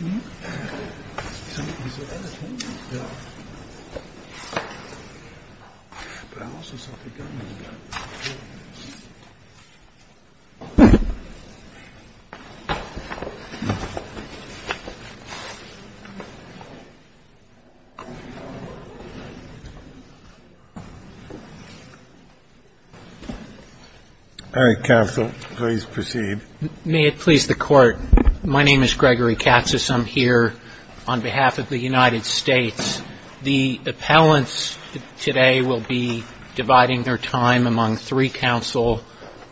All right. Counsel, please proceed. My name is Gregory Katsas. I'm here on behalf of the United States. The appellants today will be dividing their time among three counsel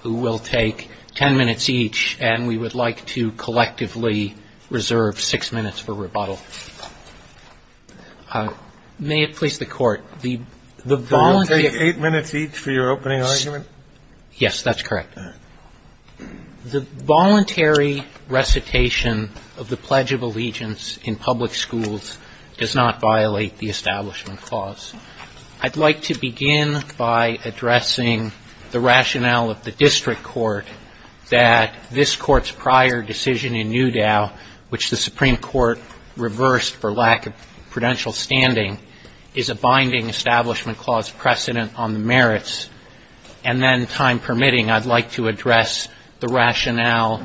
who will take ten minutes each, and we would like to collectively reserve six minutes for rebuttal. May it please the Court. Eight minutes each for your opening argument? Yes, that's correct. The voluntary recitation of the Pledge of Allegiance in public schools does not violate the Establishment Clause. I'd like to begin by addressing the rationale of the district court that this Court's prior decision in Newdow, which the Supreme Court reversed for lack of prudential standing, is a binding Establishment Clause precedent on the merits. And then, time permitting, I'd like to address the rationale,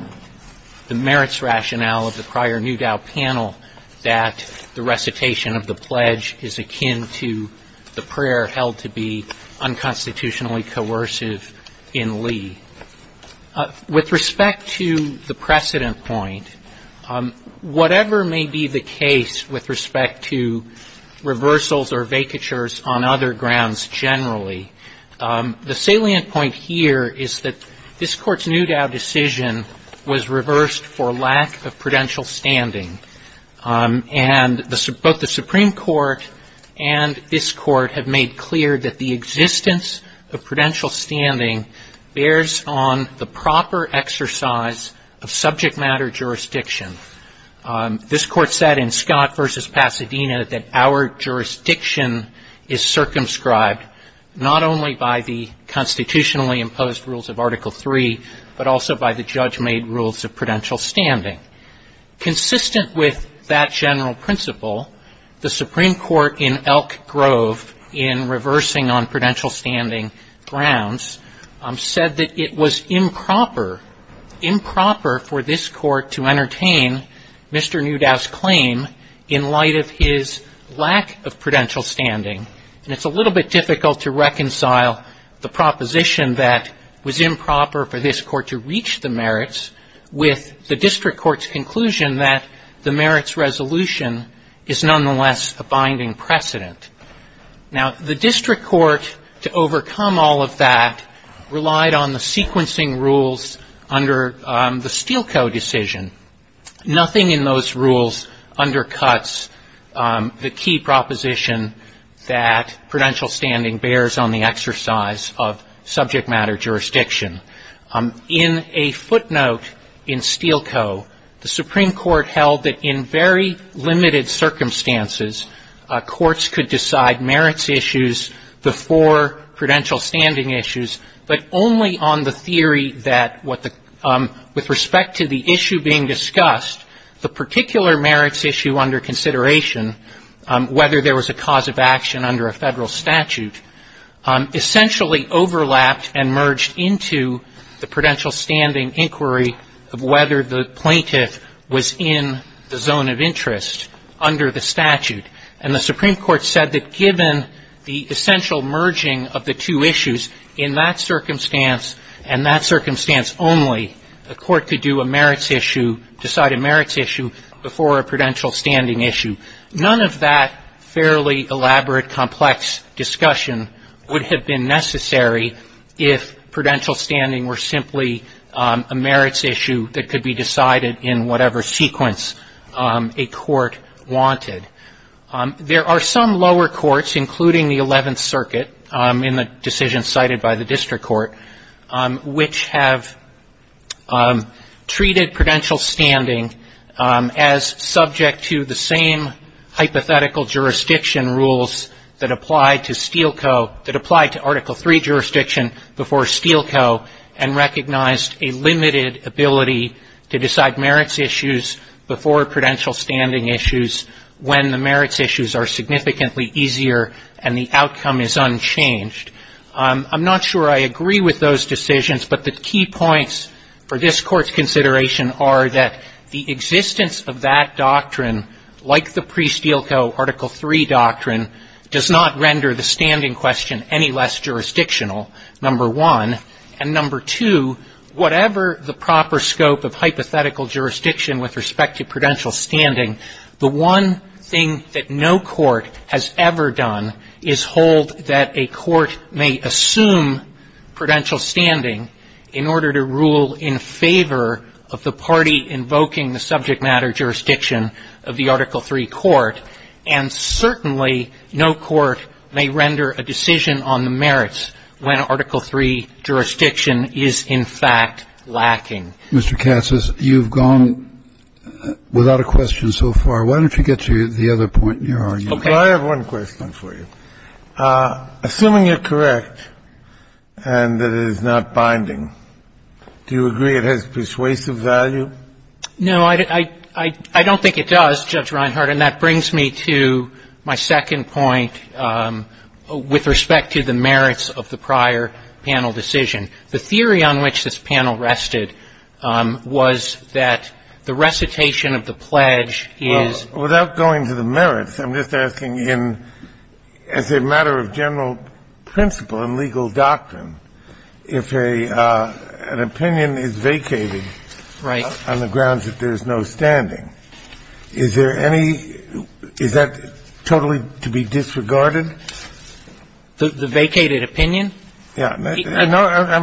the merits rationale of the prior Newdow panel that the recitation of the Pledge is akin to the prayer held to be unconstitutionally coercive in Lee. With respect to the precedent point, whatever may be the case with respect to reversals or vacatures on other grounds generally, the salient point here is that this Court's Newdow decision was reversed for lack of prudential standing. And both the Supreme Court and this Court have made clear that the existence of prudential standing bears on the proper exercise of subject matter jurisdiction. This Court said in Scott v. Pasadena that our jurisdiction is circumscribed not only by the constitutionally imposed rules of Article III, but also by the judge-made rules of prudential standing. Consistent with that general principle, the Supreme Court in Elk Grove, in reversing on prudential standing grounds, said that it was improper, improper for this Court to entertain Mr. Newdow's claim in light of his lack of prudential standing. And it's a little bit difficult to reconcile the proposition that was improper for this Court to reach the merits with the district court's conclusion that the merits resolution is nonetheless a binding precedent. Now, the district court, to overcome all of that, relied on the sequencing rules under the Steelco decision. Nothing in those rules undercuts the key proposition that prudential standing bears on the exercise of subject matter jurisdiction. In a footnote in Steelco, the Supreme Court held that in very limited circumstances, courts could decide merits issues before prudential standing issues, but only on the theory that with respect to the issue being discussed, the particular merits issue under consideration, whether there was a cause of action under a Federal statute, essentially overlapped and merged into the prudential standing inquiry of whether the plaintiff was in the zone of interest under the statute. And the Supreme Court said that given the essential merging of the two issues, in that circumstance and that circumstance only, a court could do a merits issue, decide a merits issue, before a prudential standing issue. None of that fairly elaborate, complex discussion would have been necessary if prudential standing were simply a merits issue that could be decided in whatever sequence a court wanted. There are some lower courts, including the Eleventh Circuit, in the decision cited by the district court, which have treated prudential standing as subject to the same hypothetical jurisdiction rules that apply to Steelco, that apply to Article III jurisdiction before Steelco, and recognized a limited ability to decide merits issues before prudential standing issues when the merits issues are significantly easier and the outcome is unchanged. I'm not sure I agree with those decisions, but the key points for this Court's consideration are that the existence of that doctrine, like the pre-Steelco Article III doctrine, does not render the standing question any less jurisdictional, number one. And number two, whatever the proper scope of hypothetical jurisdiction with respect to prudential standing, the one thing that no court has ever done is hold that a court may assume prudential standing in order to rule in favor of the party invoking the subject matter jurisdiction of the Article III court, and certainly no court may render a decision on the merits when Article III jurisdiction is, in fact, lacking. Mr. Katsas, you've gone without a question so far. Why don't you get to the other point in your argument? Okay. I have one question for you. Assuming you're correct and that it is not binding, do you agree it has persuasive value? No. I don't think it does, Judge Reinhart, and that brings me to my second point with respect to the merits of the prior panel decision. The theory on which this panel rested was that the recitation of the pledge is — I'm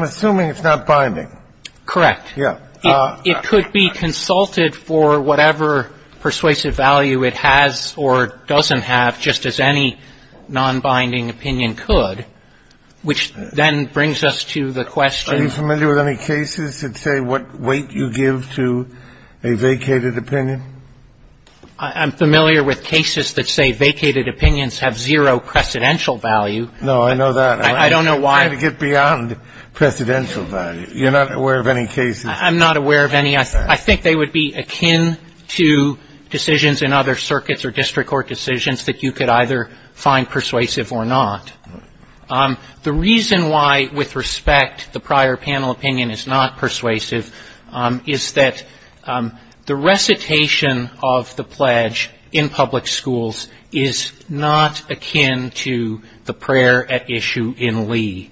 assuming it's not binding. Correct. Yeah. It could be consulted for whatever persuasive value it has or doesn't have, just as any opinion could, which then brings us to the question — Are you familiar with any cases that say what weight you give to a vacated opinion? I'm familiar with cases that say vacated opinions have zero precedential value. No, I know that. I don't know why. I'm trying to get beyond precedential value. You're not aware of any cases — I'm not aware of any. I think they would be akin to decisions in other circuits or district court decisions that you could either find persuasive or not. The reason why, with respect, the prior panel opinion is not persuasive is that the recitation of the pledge in public schools is not akin to the prayer at issue in Lee.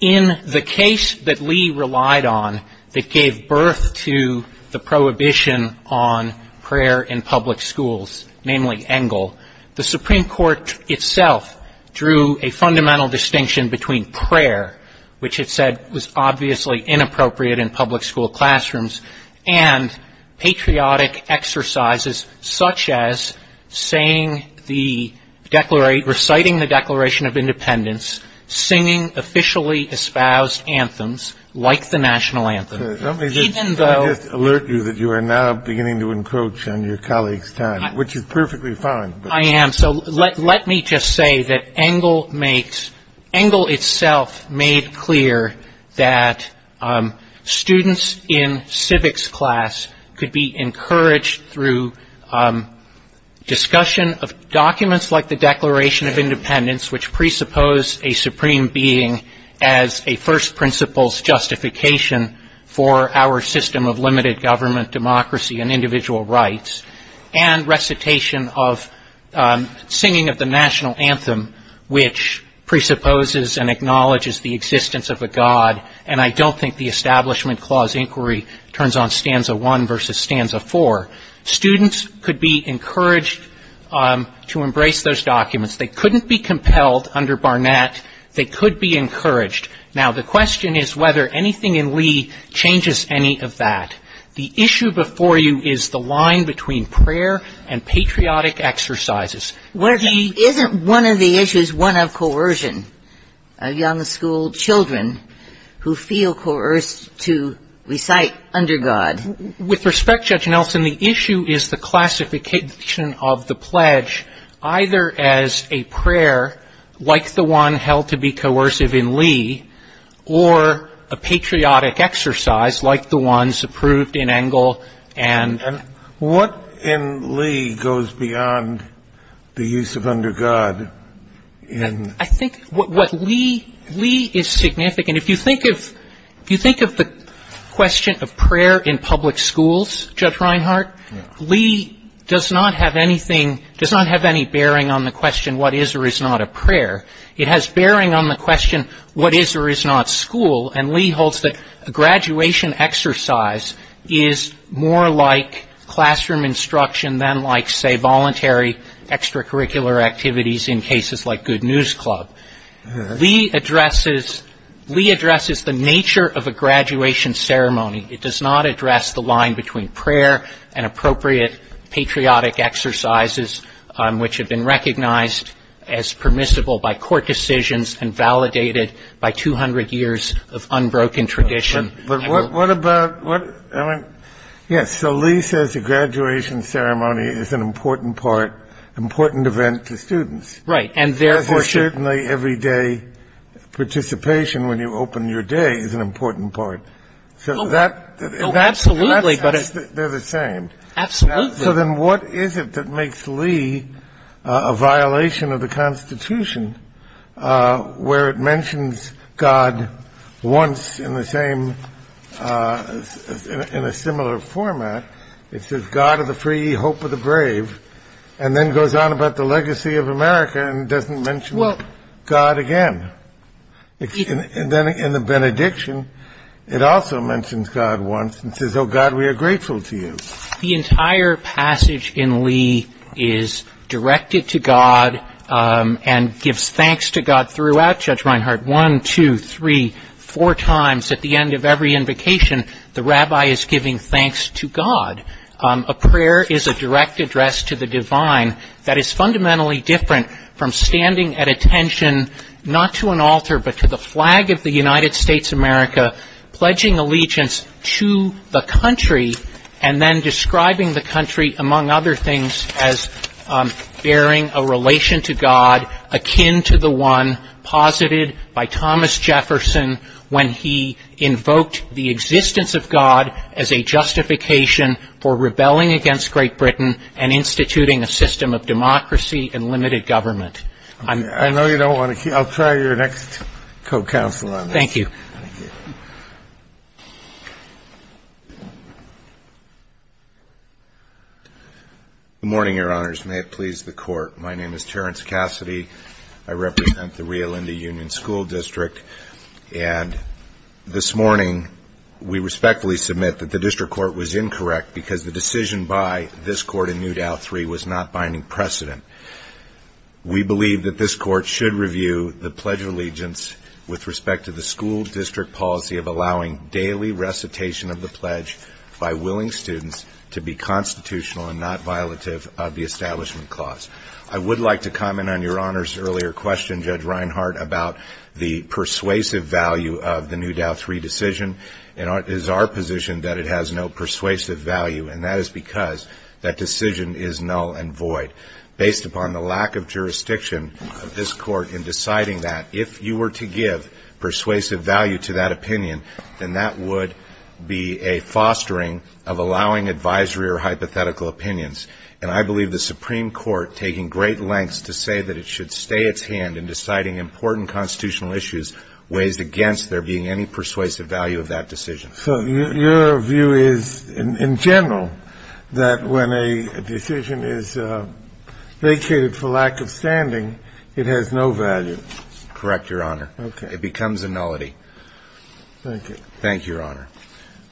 In the case that Lee relied on that gave birth to the prohibition on prayer in public schools, namely Engel, the Supreme Court itself drew a fundamental distinction between prayer, which it said was obviously inappropriate in public school classrooms, and patriotic exercises such as saying the — reciting the Declaration of Independence, singing officially espoused anthems like the National Anthem, even though — This is perfectly fine. I am. So let me just say that Engel makes — Engel itself made clear that students in civics class could be encouraged through discussion of documents like the Declaration of Independence, which presupposed a supreme being as a first principles justification for our system of limited government, democracy, and individual rights, and recitation of singing of the National Anthem, which presupposes and acknowledges the existence of a god. And I don't think the Establishment Clause inquiry turns on stanza one versus stanza four. Students could be encouraged to embrace those documents. They couldn't be compelled under Barnett. They could be encouraged. Now, the question is whether anything in Lee changes any of that. The issue before you is the line between prayer and patriotic exercises. Isn't one of the issues one of coercion, of young school children who feel coerced to recite under God? With respect, Judge Nelson, the issue is the classification of the pledge, either as a prayer like the one held to be coercive in Lee, or a patriotic exercise like the ones approved in Engel and ---- And what in Lee goes beyond the use of under God in ---- I think what Lee ---- Lee is significant. If you think of the question of prayer in public schools, Judge Reinhart, Lee does not have anything ---- does not have any bearing on the question what is or is not a prayer. It has bearing on the question what is or is not school, and Lee holds that a graduation exercise is more like classroom instruction than like, say, voluntary extracurricular activities in cases like Good News Club. Lee addresses the nature of a graduation ceremony. It does not address the line between prayer and appropriate patriotic exercises, which have been recognized as permissible by court decisions and validated by 200 years of unbroken tradition. But what about what ---- Yes, so Lee says a graduation ceremony is an important part, important event to students. Right, and therefore ---- As is certainly everyday participation when you open your day is an important part. So that ---- Absolutely, but ---- They're the same. Absolutely. So then what is it that makes Lee a violation of the Constitution where it mentions God once in the same ---- in a similar format? It says, God of the free, hope of the brave, and then goes on about the legacy of America and doesn't mention God again. And then in the benediction, it also mentions God once and says, oh, God, we are grateful to you. The entire passage in Lee is directed to God and gives thanks to God throughout, Judge Reinhart, one, two, three, four times. At the end of every invocation, the rabbi is giving thanks to God. A prayer is a direct address to the divine that is fundamentally different from standing at attention not to an altar but to the flag of the United States of America, pledging allegiance to the country and then describing the country, among other things, as bearing a relation to God akin to the one posited by Thomas Jefferson when he invoked the existence of God as a justification for rebelling against Great Britain and instituting a system of democracy and limited government. I know you don't want to keep ---- I'll try your next co-counsel on this. Thank you. Thank you. Good morning, Your Honors. May it please the Court. My name is Terrence Cassidy. I represent the Rio Lindy Union School District. And this morning, we respectfully submit that the district court was incorrect because the decision by this court in New Dow 3 was not binding precedent. We believe that this court should review the pledge of allegiance with respect to the school district policy of allowing daily recitation of the pledge by willing students to be constitutional and not violative of the establishment clause. I would like to comment on Your Honor's earlier question, Judge Reinhart, about the persuasive value of the New Dow 3 decision. It is our position that it has no persuasive value, and that is because that decision is null and void. Based upon the lack of jurisdiction of this court in deciding that, if you were to give persuasive value to that opinion, then that would be a fostering of allowing advisory or hypothetical opinions. And I believe the Supreme Court, taking great lengths to say that it should stay its hand in deciding important constitutional issues, weighs against there being any persuasive value of that decision. So your view is, in general, that when a decision is vacated for lack of standing, it has no value? Correct, Your Honor. Okay. It becomes a nullity. Thank you. Thank you, Your Honor.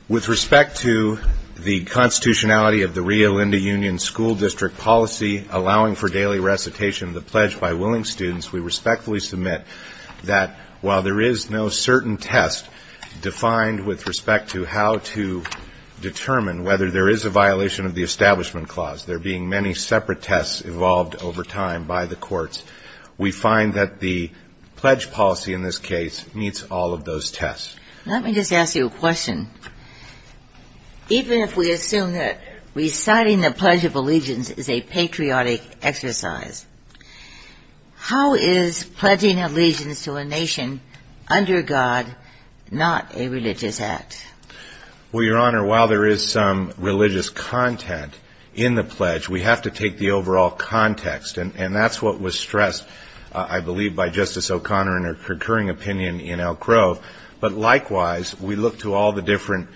With respect to the constitutionality of the Rio Linda Union school district policy allowing for daily recitation of the pledge by willing students, we respectfully submit that while there is no certain test defined with respect to how to determine whether there is a violation of the Establishment Clause, there being many separate tests evolved over time by the courts, we find that the pledge policy in this case meets all of those tests. Let me just ask you a question. Even if we assume that reciting the Pledge of Allegiance is a patriotic exercise, how is pledging allegiance to a nation under God not a religious act? Well, Your Honor, while there is some religious content in the pledge, we have to take the overall context. And that's what was stressed, I believe, by Justice O'Connor in her recurring opinion in Elk Grove. But likewise, we look to all the different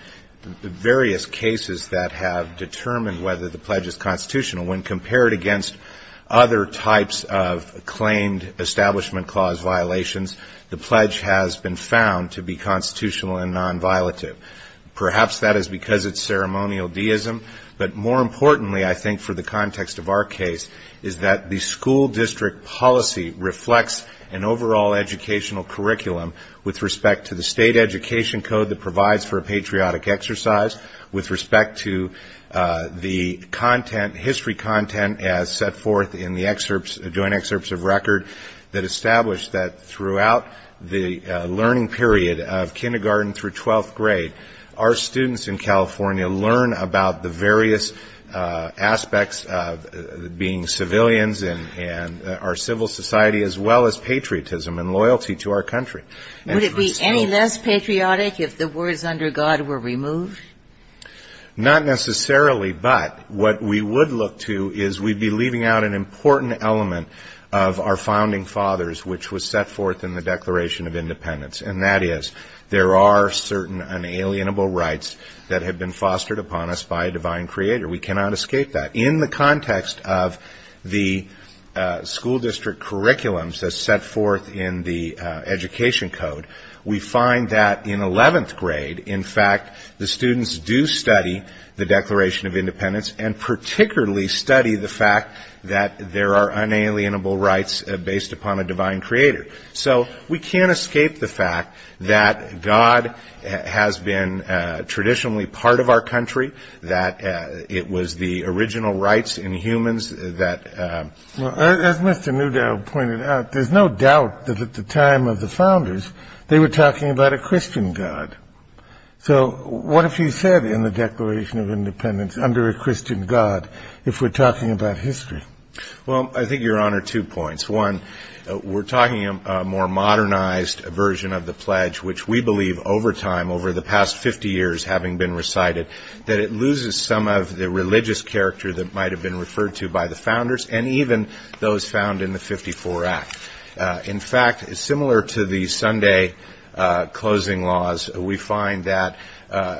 various cases that have determined whether the pledge is constitutional when compared against other types of claimed Establishment Clause violations, the pledge has been found to be constitutional and non-violative. Perhaps that is because it's ceremonial deism. But more importantly, I think, for the context of our case, is that the school district policy reflects an overall educational curriculum with respect to the state education code that provides for a patriotic exercise, with respect to the history content as set forth in the joint excerpts of record that establish that throughout the learning period of kindergarten through 12th grade, our students in California learn about the various aspects of being civilians and our civil society as well as patriotism and loyalty to our country. Would it be any less patriotic if the words under God were removed? Not necessarily, but what we would look to is we'd be leaving out an important element of our founding fathers, which was set forth in the Declaration of Independence, and that is there are certain unalienable rights that have been fostered upon us by a divine creator. We cannot escape that. In the context of the school district curriculums as set forth in the education code, we find that in 11th grade, in fact, the students do study the Declaration of Independence and particularly study the fact that there are unalienable rights based upon a divine creator. So we can't escape the fact that God has been traditionally part of our country, that it was the original rights in humans that- As Mr. Newdale pointed out, there's no doubt that at the time of the founders, they were talking about a Christian God. So what if he said in the Declaration of Independence, under a Christian God, if we're talking about history? Well, I think, Your Honor, two points. One, we're talking a more modernized version of the pledge, which we believe over time, over the past 50 years having been recited, that it loses some of the religious character that might have been referred to by the founders and even those found in the 54 Act. In fact, similar to the Sunday closing laws, we find that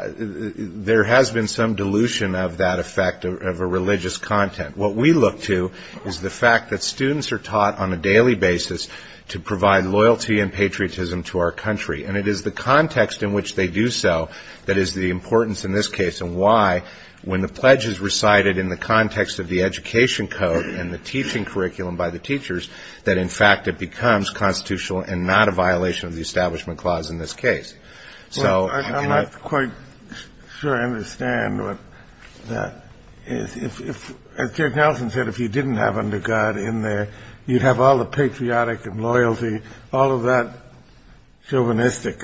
there has been some dilution of that effect of a religious content. What we look to is the fact that students are taught on a daily basis to provide loyalty and patriotism to our country. And it is the context in which they do so that is the importance in this case and why, when the pledge is recited in the context of the education code and the teaching curriculum by the teachers, that in fact it becomes constitutional and not a violation of the Establishment Clause in this case. Well, I'm not quite sure I understand what that is. As Judge Nelson said, if you didn't have under God in there, you'd have all the patriotic and loyalty, all of that chauvinistic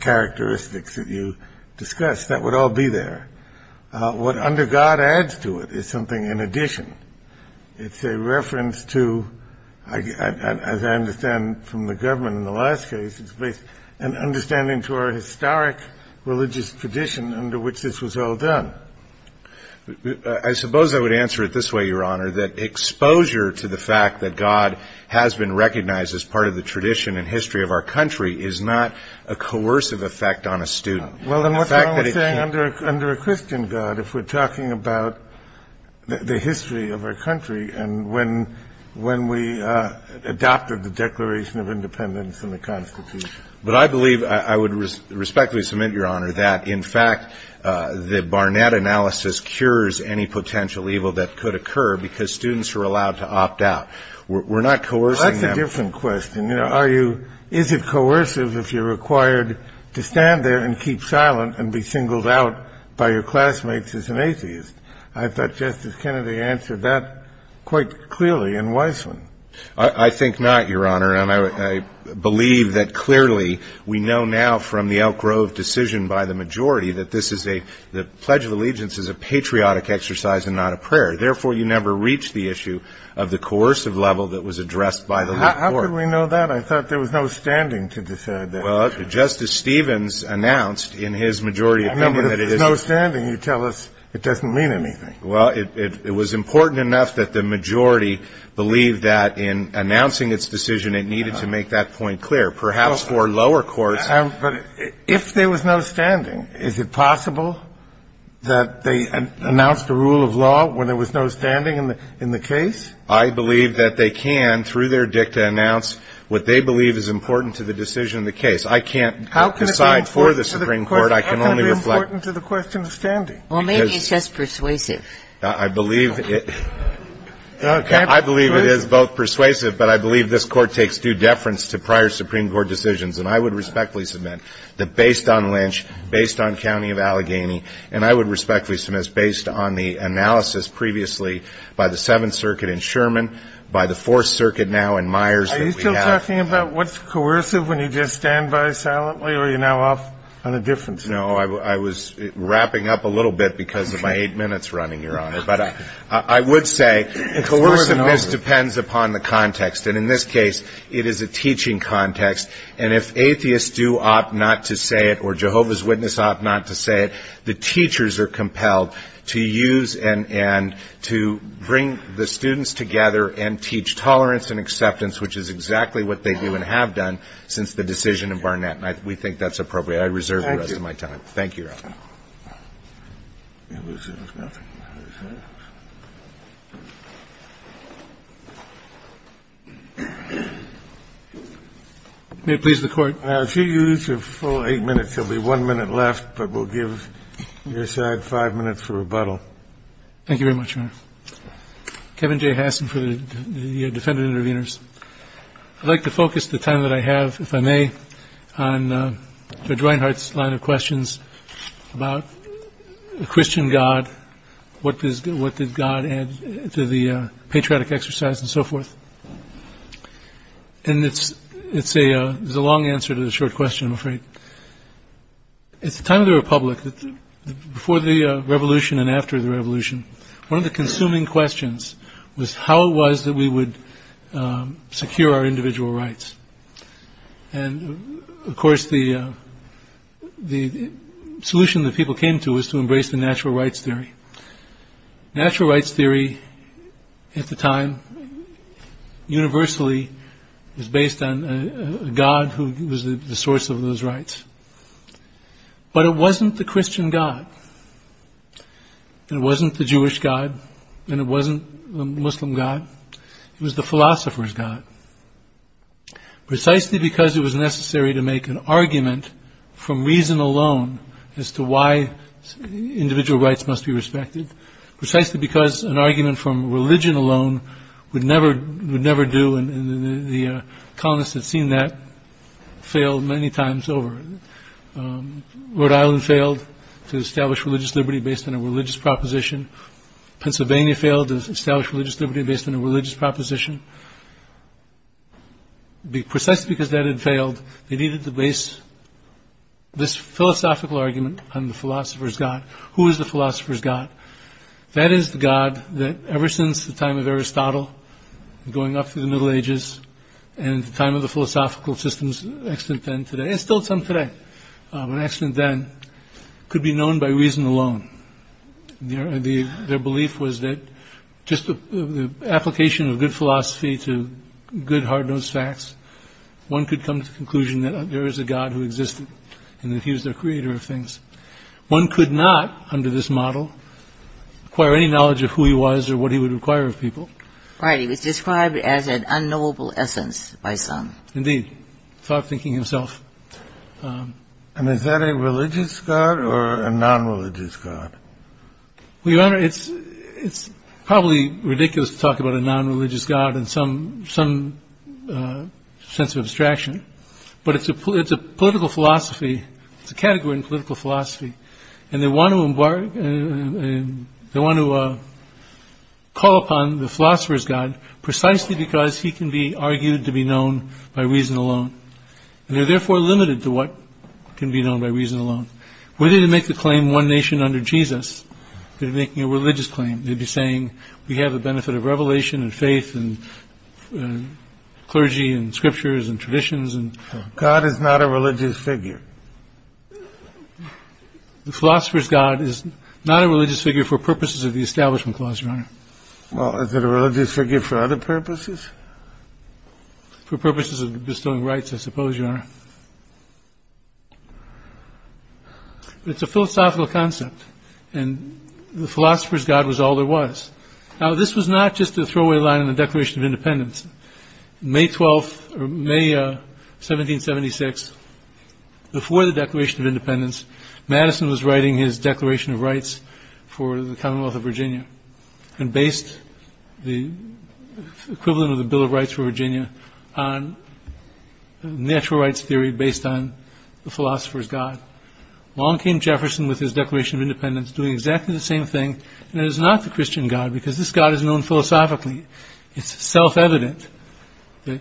characteristics that you discussed. That would all be there. What under God adds to it is something in addition. It's a reference to, as I understand from the government in the last case, an understanding to our historic religious tradition under which this was all done. I suppose I would answer it this way, Your Honor, that exposure to the fact that God has been recognized as part of the tradition and history of our country is not a coercive effect on a student. Well, then what's wrong with saying under a Christian God if we're talking about the history of our country and when we adopted the Declaration of Independence and the Constitution? But I believe, I would respectfully submit, Your Honor, that in fact the Barnett analysis cures any potential evil that could occur because students are allowed to opt out. We're not coercing them. Well, that's a different question. You know, is it coercive if you're required to stand there and keep silent and be singled out by your classmates as an atheist? I thought Justice Kennedy answered that quite clearly in Weissman. I think not, Your Honor, and I believe that clearly we know now from the Elk Grove decision by the majority that the Pledge of Allegiance is a patriotic exercise and not a prayer. Therefore, you never reach the issue of the coercive level that was addressed by the lower court. How could we know that? I thought there was no standing to decide that. Well, Justice Stevens announced in his majority amendment that it is. I mean, if there's no standing, you tell us it doesn't mean anything. Well, it was important enough that the majority believed that in announcing its decision it needed to make that point clear, perhaps for lower courts. But if there was no standing, is it possible that they announced a rule of law when there was no standing in the case? I believe that they can, through their dicta, announce what they believe is important to the decision of the case. I can't decide for the Supreme Court. I can only reflect. How can it be important to the question of standing? Well, maybe it's just persuasive. I believe it is both persuasive, but I believe this Court takes due deference to prior Supreme Court decisions. And I would respectfully submit that based on Lynch, based on County of Allegheny, and I would respectfully submit, based on the analysis previously by the Seventh Circuit in Sherman, by the Fourth Circuit now in Myers that we have. Are you still talking about what's coercive when you just stand by silently, or are you now off on a different subject? No. I was wrapping up a little bit because of my eight minutes running, Your Honor. But I would say coerciveness depends upon the context. And in this case, it is a teaching context. And if atheists do opt not to say it, or Jehovah's Witnesses opt not to say it, the teachers are compelled to use and to bring the students together and teach tolerance and acceptance, which is exactly what they do and have done since the decision of Barnett. And we think that's appropriate. I reserve the rest of my time. Thank you. Thank you, Your Honor. May it please the Court. If you use your full eight minutes, there will be one minute left, but we'll give your side five minutes for rebuttal. Thank you very much, Your Honor. Kevin J. Hassan for the defendant intervenors. I'd like to focus the time that I have, if I may, on Judge Reinhardt's line of questions about the Christian God, what did God add to the patriotic exercise, and so forth. And it's a long answer to a short question, I'm afraid. At the time of the Republic, before the Revolution and after the Revolution, one of the consuming questions was how it was that we would secure our individual rights. And, of course, the solution that people came to was to embrace the natural rights theory. Natural rights theory at the time, universally, was based on a God who was the source of those rights. But it wasn't the Christian God, and it wasn't the Jewish God, and it wasn't the Muslim God. It was the philosopher's God, precisely because it was necessary to make an argument from reason alone as to why individual rights must be respected, precisely because an argument from religion alone would never do, and the colonists had seen that fail many times over. Rhode Island failed to establish religious liberty based on a religious proposition. Pennsylvania failed to establish religious liberty based on a religious proposition. Precisely because that had failed, they needed to base this philosophical argument on the philosopher's God. Who is the philosopher's God? That is the God that, ever since the time of Aristotle, going up through the Middle Ages, and the time of the philosophical systems, and still some today, an accident then could be known by reason alone. Their belief was that just the application of good philosophy to good, hard-nosed facts, one could come to the conclusion that there is a God who existed and that he was the creator of things. One could not, under this model, acquire any knowledge of who he was or what he would require of people. Right. He was described as an unknowable essence by some. Indeed. Thought-thinking himself. And is that a religious God or a non-religious God? Well, Your Honor, it's probably ridiculous to talk about a non-religious God in some sense of abstraction. But it's a political philosophy. It's a category in political philosophy. And they want to call upon the philosopher's God precisely because he can be argued to be known by reason alone. And they're therefore limited to what can be known by reason alone. Were they to make the claim one nation under Jesus, they'd be making a religious claim. They'd be saying, we have the benefit of revelation and faith and clergy and scriptures and traditions. God is not a religious figure. The philosopher's God is not a religious figure for purposes of the Establishment Clause, Your Honor. Well, is it a religious figure for other purposes? For purposes of bestowing rights, I suppose, Your Honor. It's a philosophical concept. And the philosopher's God was all there was. Now, this was not just a throwaway line in the Declaration of Independence. May 12th or May 1776, before the Declaration of Independence, Madison was writing his Declaration of Rights for the Commonwealth of Virginia. And based the equivalent of the Bill of Rights for Virginia on natural rights theory based on the philosopher's God. Along came Jefferson with his Declaration of Independence doing exactly the same thing. And it is not the Christian God because this God is known philosophically. It's self-evident that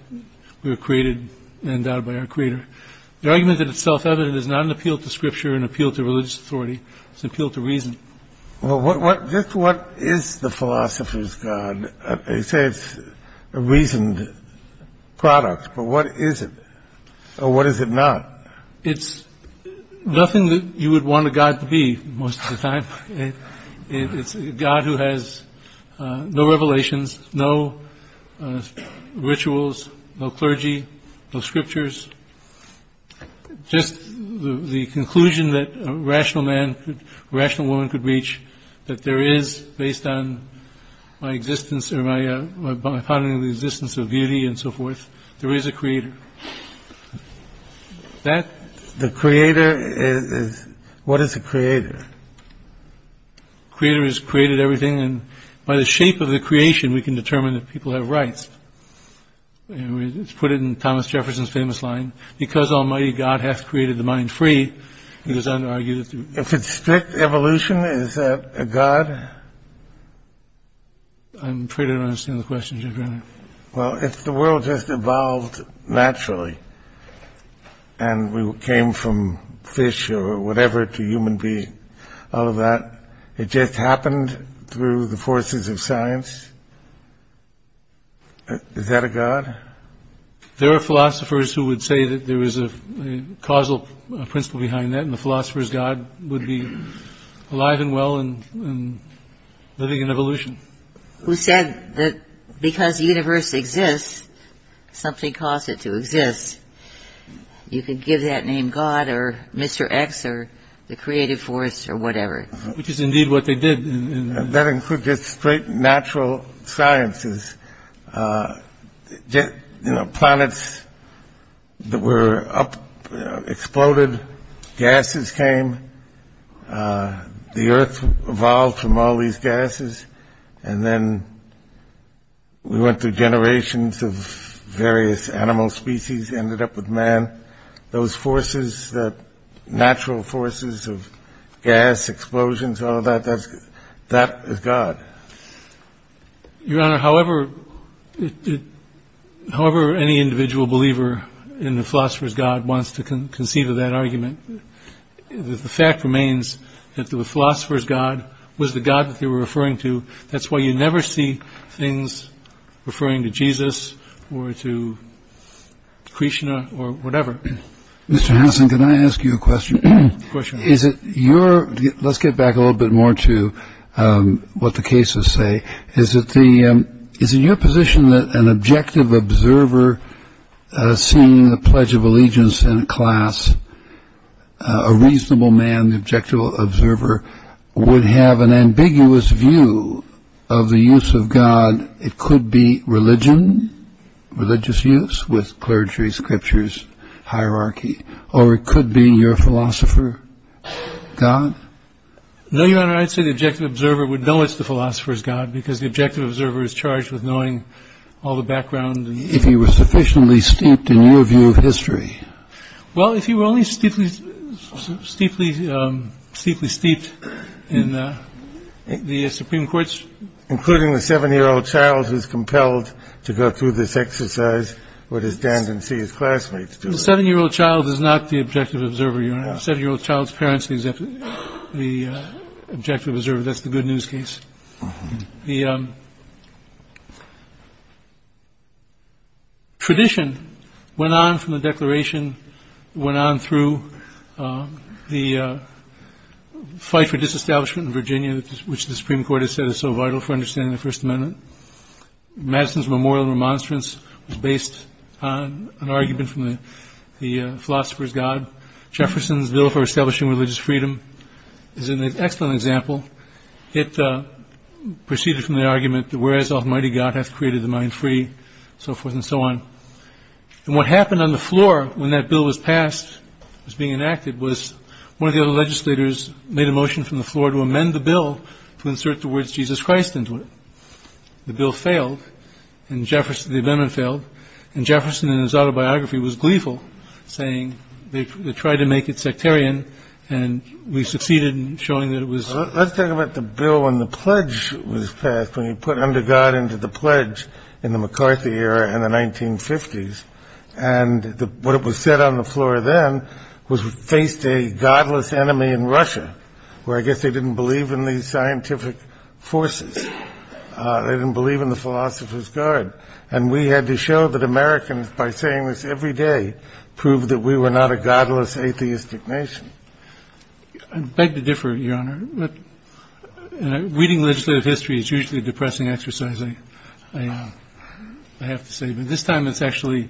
we were created and endowed by our creator. The argument that it's self-evident is not an appeal to scripture, an appeal to religious authority. It's an appeal to reason. Well, just what is the philosopher's God? You say it's a reasoned product. But what is it? Or what is it not? It's nothing that you would want a God to be most of the time. It's a God who has no revelations, no rituals, no clergy, no scriptures. Just the conclusion that a rational man, a rational woman could reach, that there is, based on my existence or my finding of the existence of beauty and so forth, there is a creator. What is a creator? A creator has created everything. And by the shape of the creation, we can determine if people have rights. It's put in Thomas Jefferson's famous line, because almighty God hath created the mind free, it is under-argued. If it's strict evolution, is that a God? I'm afraid I don't understand the question, Your Honor. Well, if the world just evolved naturally, and we came from fish or whatever to human beings, it just happened through the forces of science, is that a God? There are philosophers who would say that there is a causal principle behind that, and the philosopher's God would be alive and well and living in evolution. Who said that because the universe exists, something caused it to exist. You could give that name God or Mr. X or the creative force or whatever. Which is indeed what they did. That includes just straight natural sciences. Planets were up, exploded, gases came, the earth evolved from all these gases, and then we went through generations of various animal species, ended up with man. Those forces, natural forces of gas, explosions, all of that, that is God. Your Honor, however any individual believer in the philosopher's God wants to conceive of that argument, the fact remains that the philosopher's God was the God that they were referring to. That's why you never see things referring to Jesus or to Krishna or whatever. Mr. Hanson, can I ask you a question? Of course, Your Honor. Let's get back a little bit more to what the cases say. Is it your position that an objective observer seeing the Pledge of Allegiance in a class, a reasonable man, an objective observer, would have an ambiguous view of the use of God? It could be religion, religious use with clergy, scriptures, hierarchy, or it could be your philosopher God? No, Your Honor, I'd say the objective observer would know it's the philosopher's God because the objective observer is charged with knowing all the background. If he was sufficiently steeped in your view of history? Well, if he were only steeply steeped in the Supreme Court's... Including the seven-year-old child who's compelled to go through this exercise, or to stand and see his classmates do it. The seven-year-old child is not the objective observer, Your Honor. The seven-year-old child's parents are the objective observer. That's the good news case. The tradition went on from the Declaration, went on through the fight for disestablishment in Virginia, which the Supreme Court has said is so vital for understanding the First Amendment. Madison's memorial remonstrance was based on an argument from the philosopher's God. Jefferson's Bill for Establishing Religious Freedom is an excellent example. It proceeded from the argument that whereas almighty God hath created the mind free, so forth and so on. And what happened on the floor when that bill was passed, was being enacted, was one of the other legislators made a motion from the floor to amend the bill to insert the words Jesus Christ into it. The bill failed, and the amendment failed, and Jefferson in his autobiography was gleeful, saying they tried to make it sectarian, and we succeeded in showing that it was. Let's talk about the bill when the pledge was passed, when you put under God into the pledge in the McCarthy era in the 1950s. And what it was said on the floor then was we faced a godless enemy in Russia, where I guess they didn't believe in these scientific forces. They didn't believe in the philosopher's God. And we had to show that Americans, by saying this every day, proved that we were not a godless, atheistic nation. I beg to differ, Your Honor. Reading legislative history is usually a depressing exercise, I have to say. But this time it's actually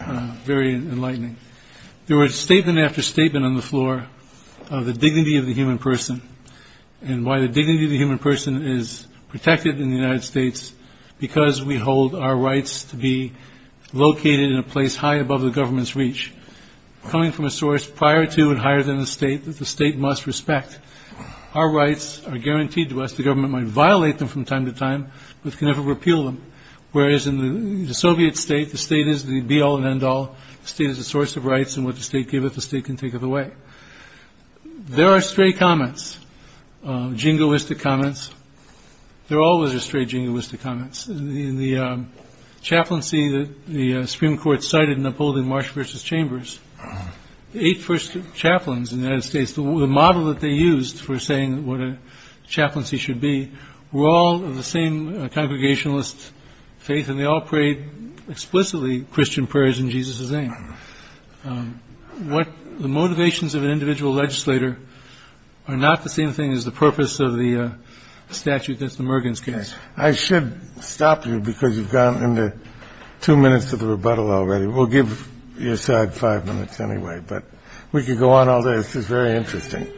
very enlightening. There was statement after statement on the floor of the dignity of the human person and why the dignity of the human person is protected in the United States because we hold our rights to be located in a place high above the government's reach, coming from a source prior to and higher than the state that the state must respect. Our rights are guaranteed to us. The government might violate them from time to time but can never repeal them, whereas in the Soviet state, the state is the be-all and end-all. The state is the source of rights, and what the state giveth, the state can take it away. There are stray comments, jingoistic comments. There always are stray jingoistic comments. In the chaplaincy that the Supreme Court cited in upholding Marsh v. Chambers, the eight first chaplains in the United States, the model that they used for saying what a chaplaincy should be, were all of the same congregationalist faith, and they all prayed explicitly Christian prayers in Jesus' name. The motivations of an individual legislator are not the same thing as the purpose of the statute that's the Mergen's case. I should stop you because you've gone into two minutes of the rebuttal already. We'll give your side five minutes anyway, but we could go on all day. This is very interesting.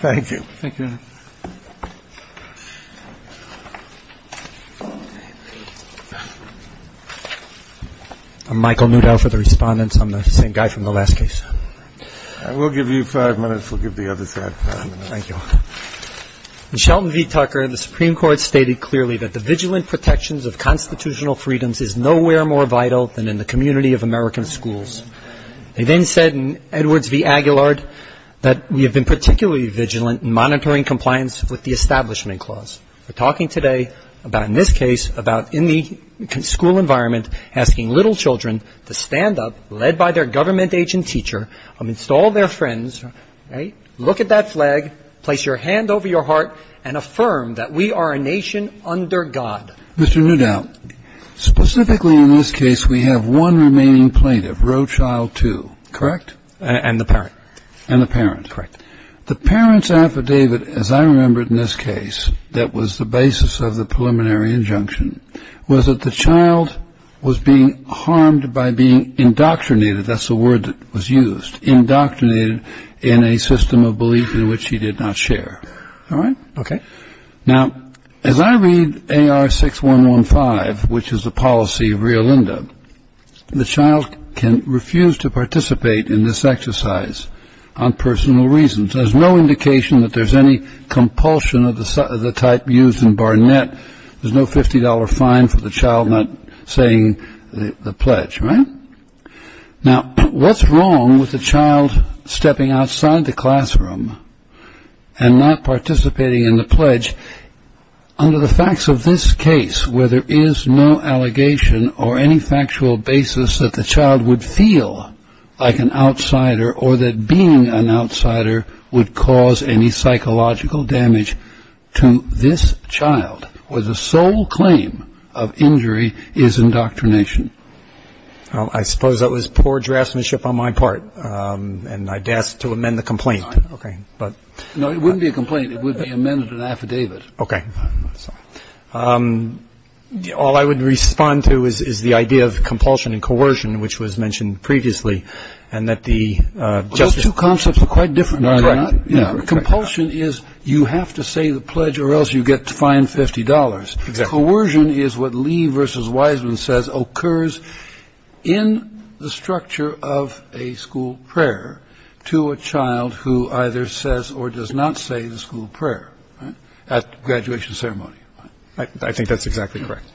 Thank you. Thank you, Your Honor. I'm Michael Newdow for the respondents. I'm the same guy from the last case. I will give you five minutes. We'll give the other side five minutes. Thank you. In Shelton v. Tucker, the Supreme Court stated clearly that the vigilant protections of constitutional freedoms is nowhere more vital than in the community of American schools. They then said in Edwards v. Aguilar that we have been particularly vigilant in monitoring compliance with the Establishment Clause. We're talking today about in this case about in the school environment asking little children to stand up, led by their government agent teacher, install their friends, look at that flag, place your hand over your heart, and affirm that we are a nation under God. Mr. Newdow, specifically in this case we have one remaining plaintiff, Roe Child 2, correct? And the parent. And the parent. Correct. The parent's affidavit, as I remember it in this case, that was the basis of the preliminary injunction, was that the child was being harmed by being indoctrinated, that's the word that was used, indoctrinated in a system of belief in which he did not share. All right? Okay. Now, as I read AR 6115, which is the policy of Rio Linda, the child can refuse to participate in this exercise on personal reasons. There's no indication that there's any compulsion of the type used in Barnett. There's no $50 fine for the child not saying the pledge, right? Now, what's wrong with a child stepping outside the classroom and not participating in the pledge? Under the facts of this case, where there is no allegation or any factual basis that the child would feel like an outsider or that being an outsider would cause any psychological damage to this child, where the sole claim of injury is indoctrination. I suppose that was poor draftsmanship on my part, and I'd ask to amend the complaint. Okay. No, it wouldn't be a complaint. It would be amended in affidavit. Okay. All I would respond to is the idea of compulsion and coercion, which was mentioned previously, and that the justice. Those two concepts are quite different. Are they not? Yeah. Compulsion is you have to say the pledge or else you get fined $50. Exactly. And coercion is what Lee v. Wiseman says occurs in the structure of a school prayer to a child who either says or does not say the school prayer at graduation ceremony. I think that's exactly correct.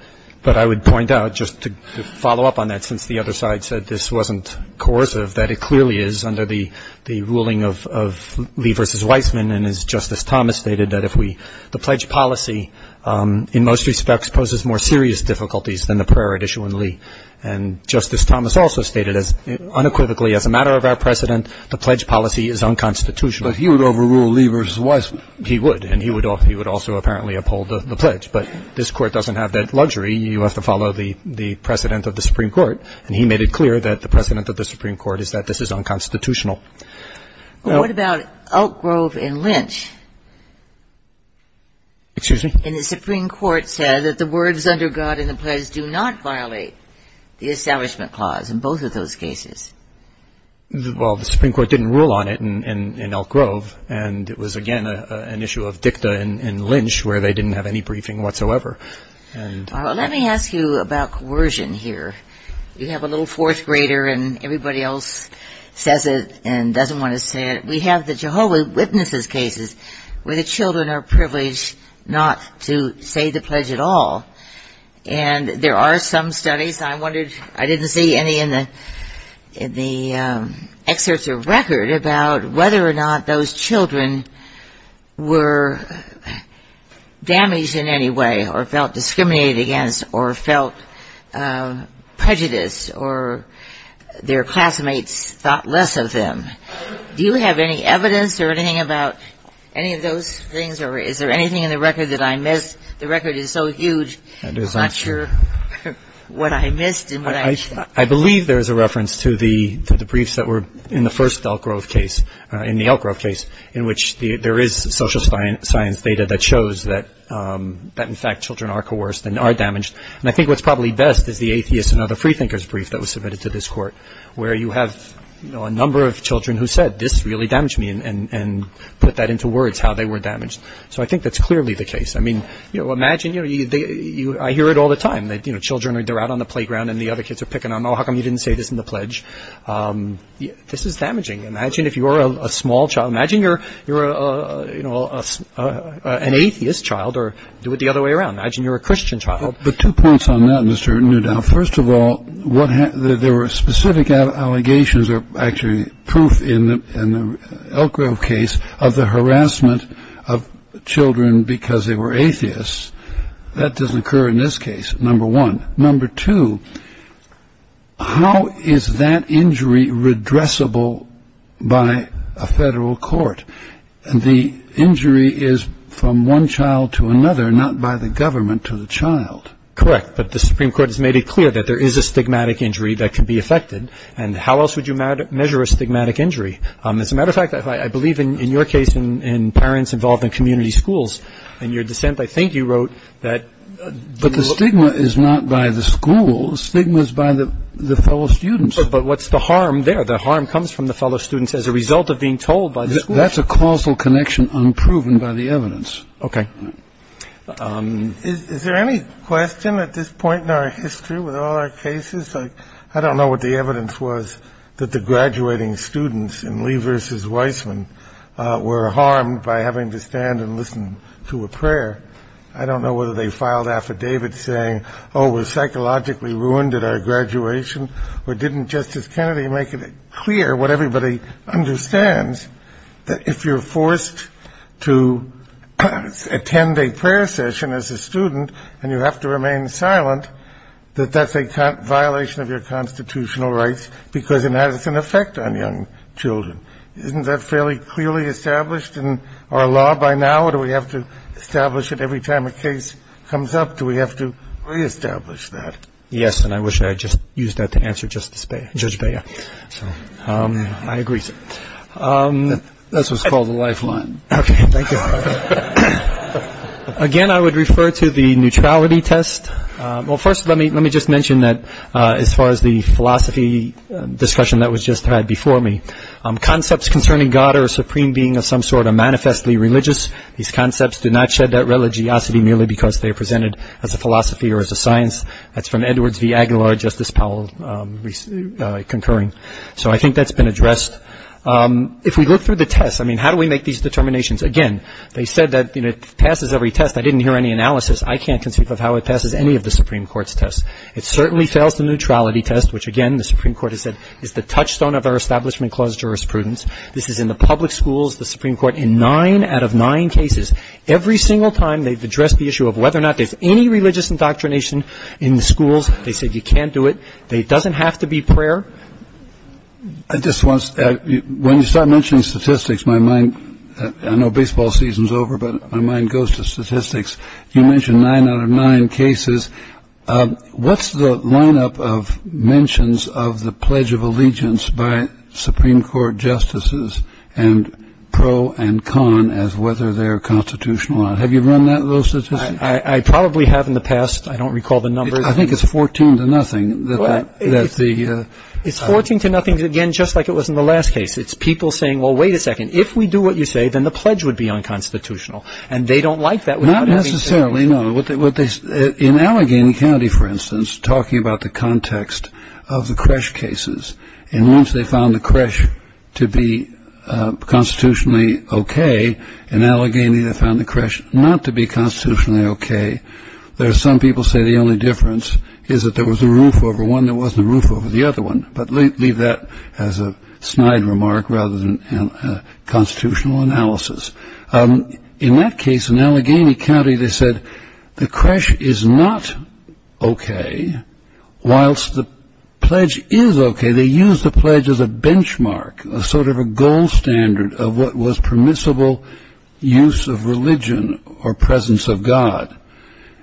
But I would point out, just to follow up on that, since the other side said this wasn't coercive, that it clearly is under the ruling of Lee v. Wiseman, and as Justice Thomas stated, that if we the pledge policy in most respects poses more serious difficulties than the prayer at issue in Lee. And Justice Thomas also stated unequivocally, as a matter of our precedent, the pledge policy is unconstitutional. But he would overrule Lee v. Wiseman. He would. And he would also apparently uphold the pledge. But this Court doesn't have that luxury. You have to follow the precedent of the Supreme Court. And he made it clear that the precedent of the Supreme Court is that this is unconstitutional. Well, what about Elk Grove and Lynch? Excuse me? And the Supreme Court said that the words under God and the pledge do not violate the Establishment Clause in both of those cases. Well, the Supreme Court didn't rule on it in Elk Grove. And it was, again, an issue of dicta in Lynch where they didn't have any briefing whatsoever. Let me ask you about coercion here. You have a little fourth grader and everybody else says it and doesn't want to say it. We have the Jehovah's Witnesses cases where the children are privileged not to say the pledge at all. And there are some studies. I wondered, I didn't see any in the excerpts of record about whether or not those children were damaged in any way or felt discriminated against or felt prejudice or their classmates thought less of them. Do you have any evidence or anything about any of those things? Or is there anything in the record that I missed? The record is so huge, I'm not sure what I missed and what I missed. I believe there is a reference to the briefs that were in the first Elk Grove case, in the Elk Grove case, in which there is social science data that shows that in fact children are coerced and are damaged. And I think what's probably best is the Atheist and Other Freethinkers brief that was submitted to this Court where you have a number of children who said this really damaged me and put that into words how they were damaged. So I think that's clearly the case. I mean, you know, imagine, you know, I hear it all the time that, you know, children are out on the playground and the other kids are picking on them. Oh, how come you didn't say this in the pledge? This is damaging. Imagine if you were a small child. Imagine you're, you know, an Atheist child or do it the other way around. Imagine you're a Christian child. But two points on that, Mr. Newdow. First of all, there were specific allegations or actually proof in the Elk Grove case of the harassment of children because they were Atheists. That doesn't occur in this case, number one. Number two, how is that injury redressable by a federal court? The injury is from one child to another, not by the government to the child. Correct, but the Supreme Court has made it clear that there is a stigmatic injury that can be affected. And how else would you measure a stigmatic injury? As a matter of fact, I believe in your case in parents involved in community schools, in your dissent, I think you wrote that the stigma is not by the school. The stigma is by the fellow students. But what's the harm there? The harm comes from the fellow students as a result of being told by the school. That's a causal connection unproven by the evidence. Okay. Is there any question at this point in our history with all our cases? I don't know what the evidence was that the graduating students in Lee v. Weissman were harmed by having to stand and listen to a prayer. I don't know whether they filed affidavits saying, oh, we're psychologically ruined at our graduation, or didn't Justice Kennedy make it clear what everybody understands, that if you're forced to attend a prayer session as a student and you have to remain silent, that that's a violation of your constitutional rights because it has an effect on young children. Isn't that fairly clearly established in our law by now, or do we have to establish it every time a case comes up? Do we have to reestablish that? Yes, and I wish I had just used that to answer Judge Bea. I agree. That's what's called a lifeline. Okay, thank you. Again, I would refer to the neutrality test. Well, first let me just mention that as far as the philosophy discussion that was just had before me, concepts concerning God or a supreme being of some sort are manifestly religious. These concepts do not shed that religiosity merely because they are presented as a philosophy or as a science. That's from Edwards v. Aguilar, Justice Powell concurring. So I think that's been addressed. If we look through the test, I mean, how do we make these determinations? Again, they said that it passes every test. I didn't hear any analysis. I can't conceive of how it passes any of the Supreme Court's tests. It certainly fails the neutrality test, which, again, the Supreme Court has said is the touchstone of our Establishment Clause jurisprudence. This is in the public schools, the Supreme Court, in nine out of nine cases. Every single time they've addressed the issue of whether or not there's any religious indoctrination in the schools, they said you can't do it. It doesn't have to be prayer. I just want to start mentioning statistics, my mind. I know baseball season's over, but my mind goes to statistics. You mentioned nine out of nine cases. What's the lineup of mentions of the Pledge of Allegiance by Supreme Court justices and pro and con as whether they are constitutional? Have you run that? I probably have in the past. I don't recall the numbers. I think it's 14 to nothing. It's 14 to nothing, again, just like it was in the last case. It's people saying, well, wait a second, if we do what you say, then the pledge would be unconstitutional. And they don't like that. Not necessarily, no. In Allegheny County, for instance, talking about the context of the Kresch cases, and once they found the Kresch to be constitutionally okay, in Allegheny they found the Kresch not to be constitutionally okay, though some people say the only difference is that there was a roof over one that wasn't a roof over the other one. But leave that as a snide remark rather than a constitutional analysis. In that case, in Allegheny County, they said the Kresch is not okay. Whilst the pledge is okay, they used the pledge as a benchmark, a sort of a gold standard of what was permissible use of religion or presence of God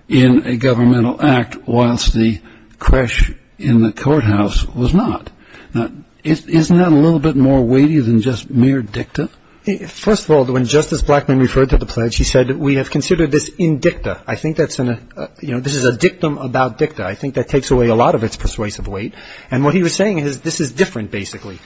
in a governmental act, whilst the Kresch in the courthouse was not. Now, isn't that a little bit more weighty than just mere dicta? First of all, when Justice Blackmun referred to the pledge, he said we have considered this indicta. I think this is a dictum about dicta. I think that takes away a lot of its persuasive weight. And what he was saying is this is different, basically.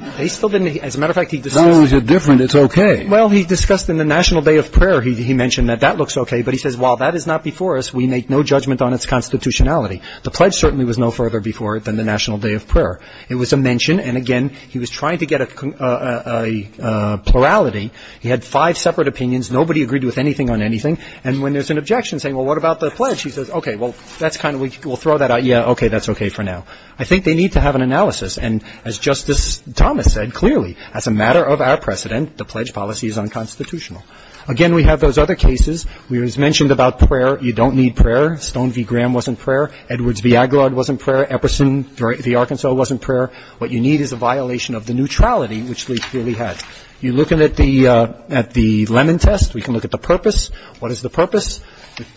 As a matter of fact, he discussed it. No, it's different, it's okay. Well, he discussed in the National Day of Prayer, he mentioned that that looks okay, but he says while that is not before us, we make no judgment on its constitutionality. The pledge certainly was no further before it than the National Day of Prayer. It was a mention, and again, he was trying to get a plurality. He had five separate opinions. Nobody agreed with anything on anything. And when there's an objection saying, well, what about the pledge? He says, okay, well, that's kind of, we'll throw that out. Yeah, okay, that's okay for now. I think they need to have an analysis. And as Justice Thomas said clearly, as a matter of our precedent, the pledge policy is unconstitutional. Again, we have those other cases. We mentioned about prayer. You don't need prayer. Stone v. Graham wasn't prayer. Edwards v. Aguilard wasn't prayer. Epperson v. Arkansas wasn't prayer. What you need is a violation of the neutrality, which Lee clearly had. You look at the lemon test, we can look at the purpose.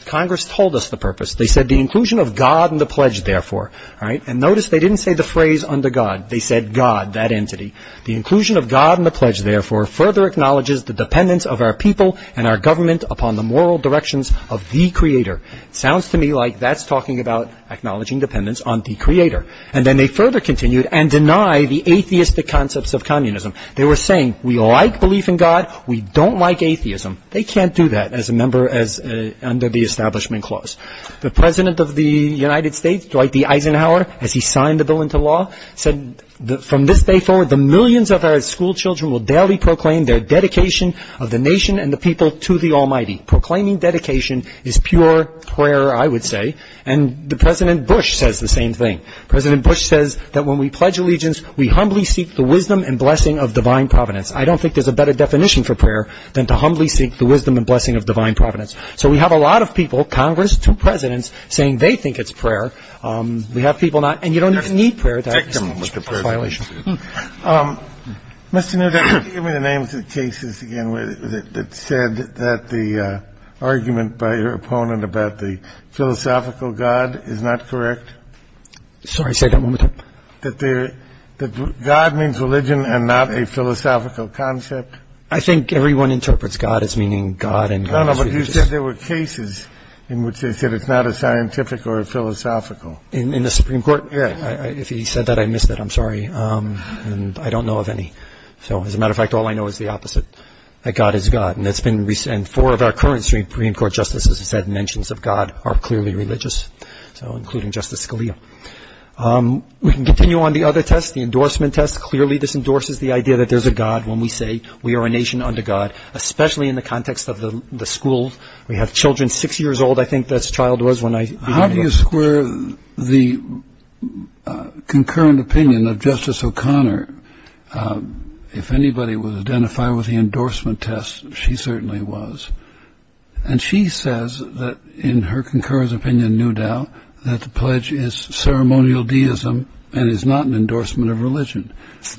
Congress told us the purpose. They said the inclusion of God in the pledge, therefore. All right? And notice they didn't say the phrase under God. They said God, that entity. The inclusion of God in the pledge, therefore, further acknowledges the dependence of our people and our government upon the moral directions of the Creator. Sounds to me like that's talking about acknowledging dependence on the Creator. And then they further continued and deny the atheistic concepts of communism. They were saying we like belief in God, we don't like atheism. They can't do that as a member under the Establishment Clause. The president of the United States, Dwight D. Eisenhower, as he signed the bill into law, said from this day forward the millions of our schoolchildren will daily proclaim their dedication of the nation and the people to the Almighty. Proclaiming dedication is pure prayer, I would say. And President Bush says the same thing. President Bush says that when we pledge allegiance, we humbly seek the wisdom and blessing of divine providence. I don't think there's a better definition for prayer than to humbly seek the wisdom and blessing of divine providence. So we have a lot of people, Congress, two presidents, saying they think it's prayer. We have people not. And you don't need prayer. Take them, Mr. President. Mr. Nutter, give me the names of cases, again, that said that the argument by your opponent about the philosophical God is not correct. Sorry, say that one more time. That God means religion and not a philosophical concept. I think everyone interprets God as meaning God and God is religious. No, no, but you said there were cases in which they said it's not a scientific or a philosophical. In the Supreme Court? Yes. If he said that, I missed it. I'm sorry. And I don't know of any. As a matter of fact, all I know is the opposite, that God is God. And four of our current Supreme Court justices have said mentions of God are clearly religious, including Justice Scalia. We can continue on the other test, the endorsement test. Clearly this endorses the idea that there's a God when we say we are a nation under God, especially in the context of the school. We have children six years old, I think this child was when I began. How do you square the concurrent opinion of Justice O'Connor? If anybody would identify with the endorsement test, she certainly was. And she says that in her concurrent opinion, no doubt, that the pledge is ceremonial deism and is not an endorsement of religion.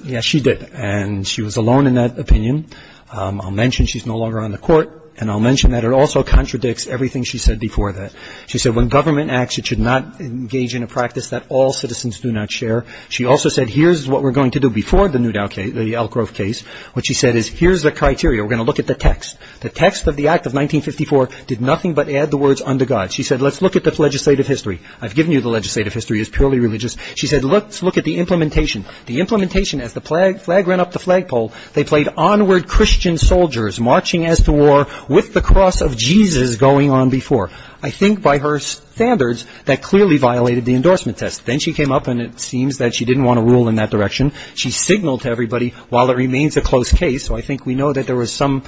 Yes, she did. And she was alone in that opinion. I'll mention she's no longer on the court, and I'll mention that it also contradicts everything she said before that. She said when government acts, it should not engage in a practice that all citizens do not share. She also said here's what we're going to do before the Newdow case, the Elk Grove case. What she said is here's the criteria. We're going to look at the text. The text of the Act of 1954 did nothing but add the words under God. She said let's look at the legislative history. I've given you the legislative history. It's purely religious. She said let's look at the implementation. As the flag ran up the flagpole, they played onward Christian soldiers marching as to war with the cross of Jesus going on before. I think by her standards, that clearly violated the endorsement test. Then she came up, and it seems that she didn't want to rule in that direction. She signaled to everybody while it remains a close case. So I think we know that there was some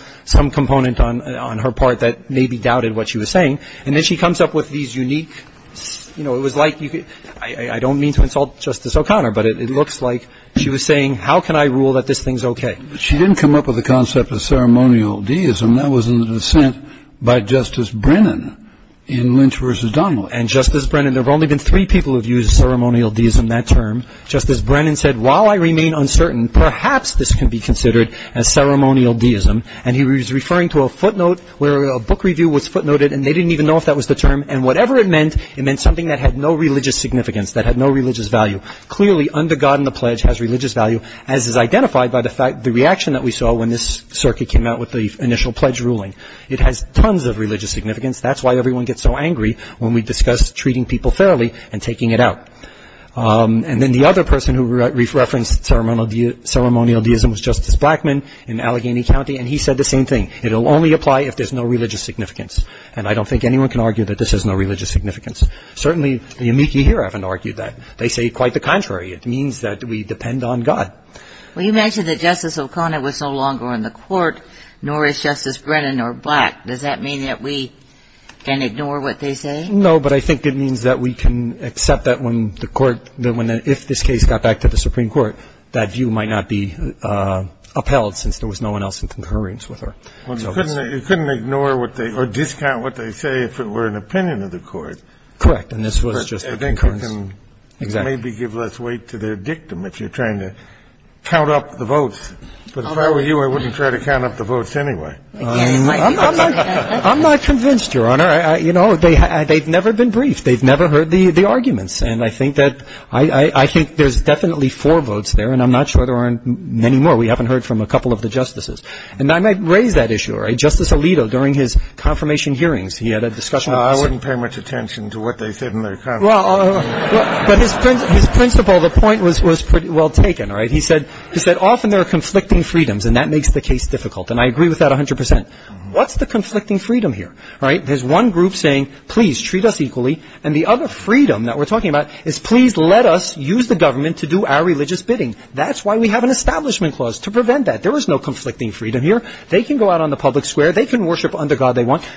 component on her part that maybe doubted what she was saying. And then she comes up with these unique, you know, it was like, I don't mean to insult Justice O'Connor, but it looks like she was saying how can I rule that this thing's okay. She didn't come up with the concept of ceremonial deism. That was in the dissent by Justice Brennan in Lynch v. Donald. And Justice Brennan, there have only been three people who have used ceremonial deism, that term. Justice Brennan said while I remain uncertain, perhaps this can be considered as ceremonial deism. And he was referring to a footnote where a book review was footnoted, and they didn't even know if that was the term. And whatever it meant, it meant something that had no religious significance, that had no religious value. Clearly, under God and the pledge has religious value, as is identified by the reaction that we saw when this circuit came out with the initial pledge ruling. It has tons of religious significance. That's why everyone gets so angry when we discuss treating people fairly and taking it out. And then the other person who referenced ceremonial deism was Justice Blackmun in Allegheny County, and he said the same thing. It will only apply if there's no religious significance. And I don't think anyone can argue that this has no religious significance. Certainly, the amici here haven't argued that. They say quite the contrary. It means that we depend on God. Well, you mentioned that Justice O'Connor was no longer in the court, nor is Justice Brennan or Black. Does that mean that we can ignore what they say? No, but I think it means that we can accept that when the court, if this case got back to the Supreme Court, that view might not be upheld since there was no one else in concurrence with her. Well, you couldn't ignore or discount what they say if it were an opinion of the court. Correct. And this was just a concurrence. Correct. And then you can maybe give less weight to their dictum if you're trying to count up the votes. But if I were you, I wouldn't try to count up the votes anyway. I'm not convinced, Your Honor. You know, they've never been briefed. They've never heard the arguments. And I think that there's definitely four votes there, and I'm not sure there are many more. We haven't heard from a couple of the justices. And I might raise that issue. All right. Justice Alito, during his confirmation hearings, he had a discussion. I wouldn't pay much attention to what they said in their conference. Well, but his principle, the point was pretty well taken. All right. He said often there are conflicting freedoms, and that makes the case difficult. And I agree with that 100 percent. What's the conflicting freedom here? All right. There's one group saying, please, treat us equally. And the other freedom that we're talking about is please let us use the government to do our religious bidding. That's why we have an establishment clause, to prevent that. There is no conflicting freedom here. They can go out on the public square. They can worship under God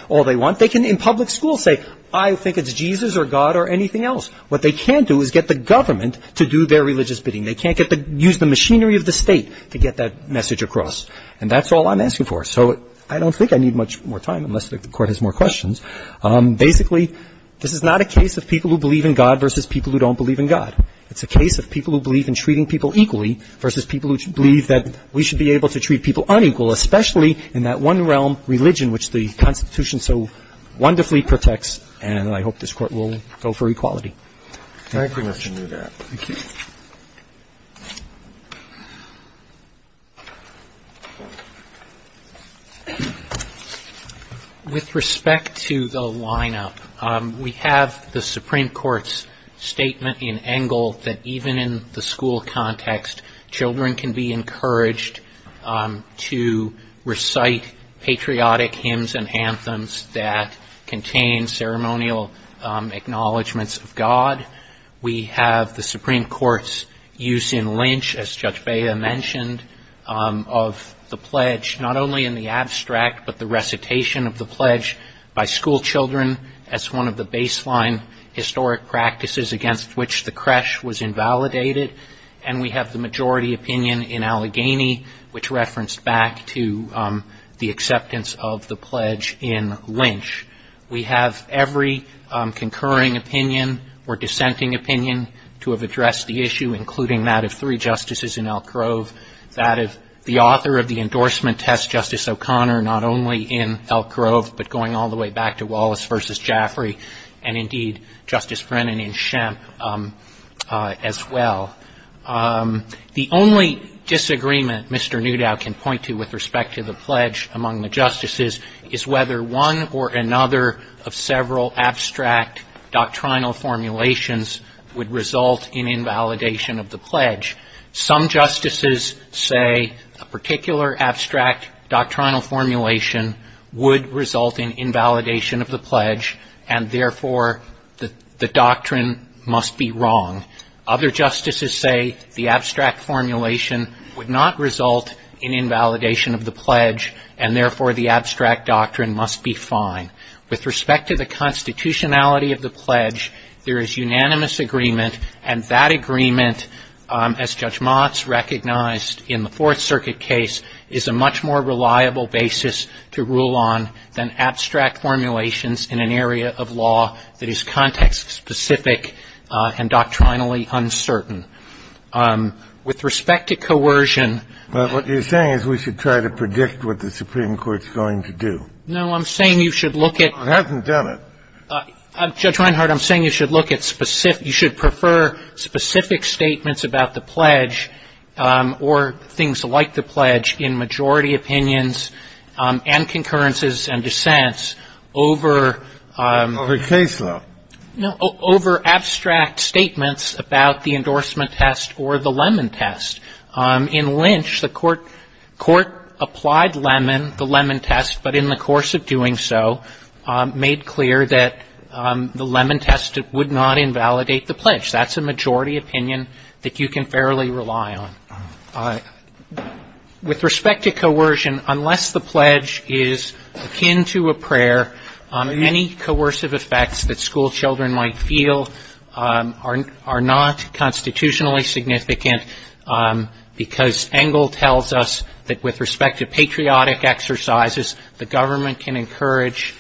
all they want. They can, in public school, say, I think it's Jesus or God or anything else. What they can't do is get the government to do their religious bidding. They can't use the machinery of the state to get that message across. And that's all I'm asking for. So I don't think I need much more time, unless the Court has more questions. Basically, this is not a case of people who believe in God versus people who don't believe in God. It's a case of people who believe in treating people equally versus people who believe that we should be able to treat people unequal, especially in that one realm, religion, which the Constitution so wonderfully protects. And I hope this Court will go for equality. Thank you. Thank you, Mr. Newgap. Thank you. With respect to the lineup, we have the Supreme Court's statement in Engel that even in the school context, children can be encouraged to recite patriotic hymns and anthems that contain ceremonial acknowledgments of God. We have the Supreme Court's use in Lynch, as Judge Bea mentioned, of the pledge, not only in the abstract, but the recitation of the pledge by school children as one of the baseline historic practices against which the creche was invalidated. And we have the majority opinion in Allegheny, which referenced back to the acceptance of the pledge in Lynch. We have every concurring opinion or dissenting opinion to have addressed the issue, including that of three justices in Elk Grove, that of the author of the endorsement test, Justice O'Connor, not only in Elk Grove, but going all the way back to Wallace v. Jaffrey, and indeed Justice Brennan in Shemp as well. The only disagreement Mr. Newdow can point to with respect to the pledge among the justices is whether one or another of several abstract doctrinal formulations would result in invalidation of the pledge. Some justices say a particular abstract doctrinal formulation would result in invalidation of the pledge, and therefore the doctrine must be wrong. Other justices say the abstract formulation would not result in invalidation of the pledge, and therefore the abstract doctrine must be fine. With respect to the constitutionality of the pledge, there is unanimous agreement, and that agreement, as Judge Motz recognized in the Fourth Circuit case, is a much more reliable basis to rule on than abstract formulations in an area of law that is context-specific and doctrinally uncertain. With respect to coercion ---- Kennedy, you're saying we should try to predict what the Supreme Court is going to do. No, I'm saying you should look at ---- It hasn't done it. Judge Reinhart, I'm saying you should look at specific ---- you should prefer specific statements about the pledge or things like the pledge in majority opinions and concurrences and dissents over ---- Over case law. No, over abstract statements about the endorsement test or the Lemon test. In Lynch, the court applied Lemon, the Lemon test, but in the course of doing so, made clear that the Lemon test would not invalidate the pledge. That's a majority opinion that you can fairly rely on. With respect to coercion, unless the pledge is akin to a prayer, any coercive effects that schoolchildren might feel are not constitutionally significant, because Engle tells us that with respect to patriotic exercises, the government can encourage,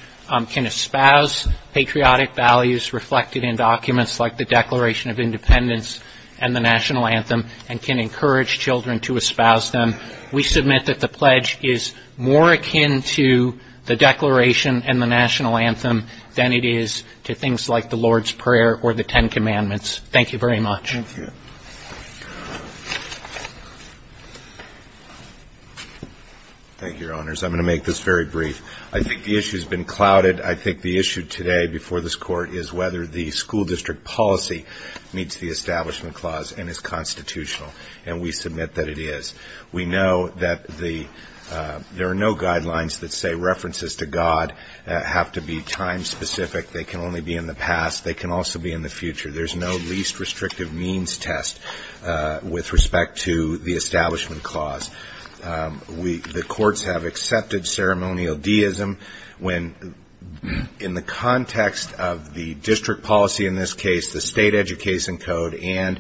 can espouse patriotic values reflected in documents like the Declaration of Independence and the National Anthem and can encourage children to espouse them. We submit that the pledge is more akin to the Declaration and the National Anthem than it is to things like the Lord's Prayer or the Ten Commandments. Thank you very much. Thank you. Thank you, Your Honors. I'm going to make this very brief. I think the issue has been clouded. I think the issue today before this Court is whether the school district policy meets the Establishment Clause and is constitutional, and we submit that it is. We know that there are no guidelines that say references to God have to be time-specific. They can only be in the past. They can also be in the future. There's no least restrictive means test with respect to the Establishment Clause. The courts have accepted ceremonial deism when, in the context of the district policy in this case, the State Education Code and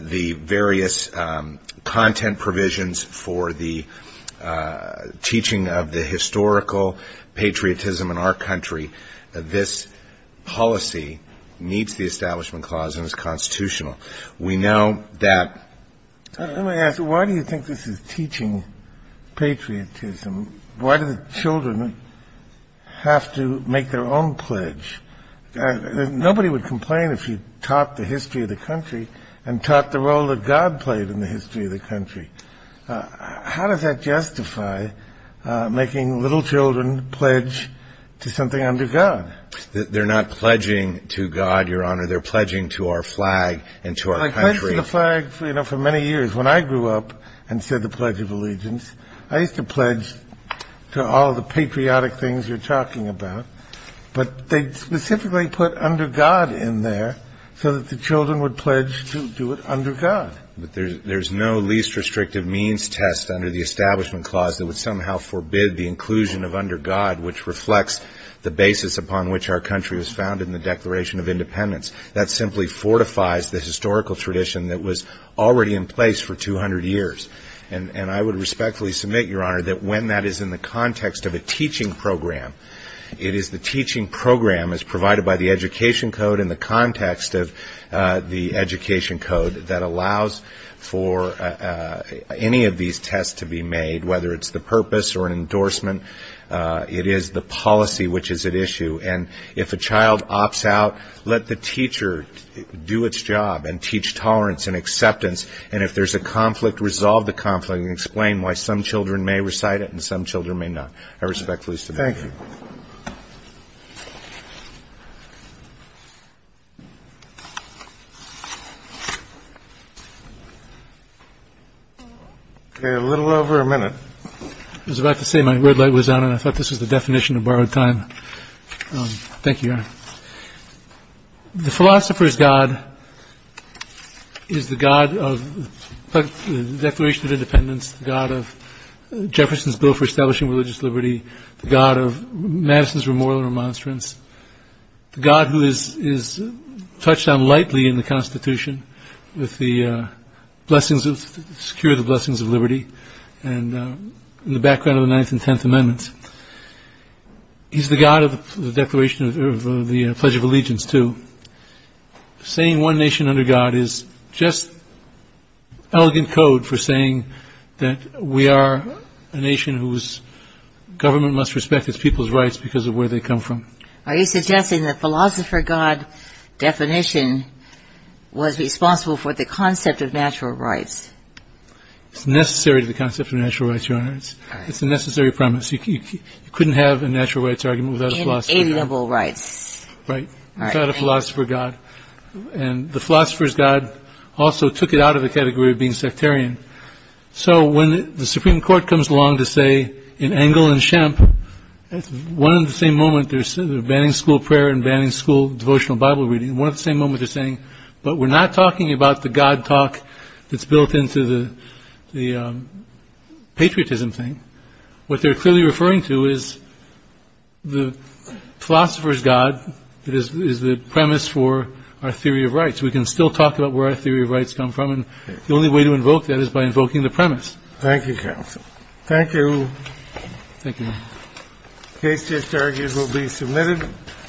the various content provisions for the teaching of the historical patriotism in our country, this policy meets the Establishment Clause and is constitutional. We know that the children have to make their own pledge. Nobody would complain if you taught the history of the country and taught the role that God played in the history of the country. How does that justify making little children pledge to something under God? They're not pledging to God, Your Honor. They're pledging to our flag and to our country. I pledged to the flag, you know, for many years. When I grew up and said the Pledge of Allegiance, I used to pledge to all the patriotic things you're talking about. But they specifically put under God in there so that the children would pledge to do it under God. But there's no least restrictive means test under the Establishment Clause that would somehow forbid the inclusion of under God, which reflects the basis upon which our country was founded in the Declaration of Independence. That simply fortifies the historical tradition that was already in place for 200 years. And I would respectfully submit, Your Honor, that when that is in the context of a teaching program, it is the teaching program as provided by the Education Code and the context of the Education Code that allows for any of these tests to be made, whether it's the purpose or an endorsement. It is the policy which is at issue. And if a child opts out, let the teacher do its job and teach tolerance and acceptance. And if there's a conflict, resolve the conflict and explain why some children may recite it and some children may not. I respectfully submit. Thank you. Okay, a little over a minute. I was about to say my red light was on, and I thought this was the definition of borrowed time. Thank you, Your Honor. The philosopher's god is the god of the Declaration of Independence, the god of Jefferson's bill for establishing religious liberty, the god of Madison's remorsel and remonstrance, the god who is touched on lightly in the Constitution with the blessings of the Secure the Blessings of Liberty and in the background of the Ninth and Tenth Amendments. He's the god of the Declaration of the Pledge of Allegiance, too. Saying one nation under God is just elegant code for saying that we are a nation whose government must respect its people's rights because of where they come from. Are you suggesting the philosopher god definition was responsible for the concept of natural rights? It's necessary to the concept of natural rights, Your Honor. It's a necessary premise. You couldn't have a natural rights argument without a philosopher god. Inalienable rights. Right, without a philosopher god. And the philosopher's god also took it out of the category of being sectarian. So when the Supreme Court comes along to say in Engel and Schempp, one and the same moment they're banning school prayer and banning school devotional Bible reading, one and the same moment they're saying, but we're not talking about the god talk that's built into the patriotism thing. What they're clearly referring to is the philosopher's god that is the premise for our theory of rights. We can still talk about where our theory of rights come from, and the only way to invoke that is by invoking the premise. Thank you, counsel. Thank you. Thank you. The case just argued will be submitted.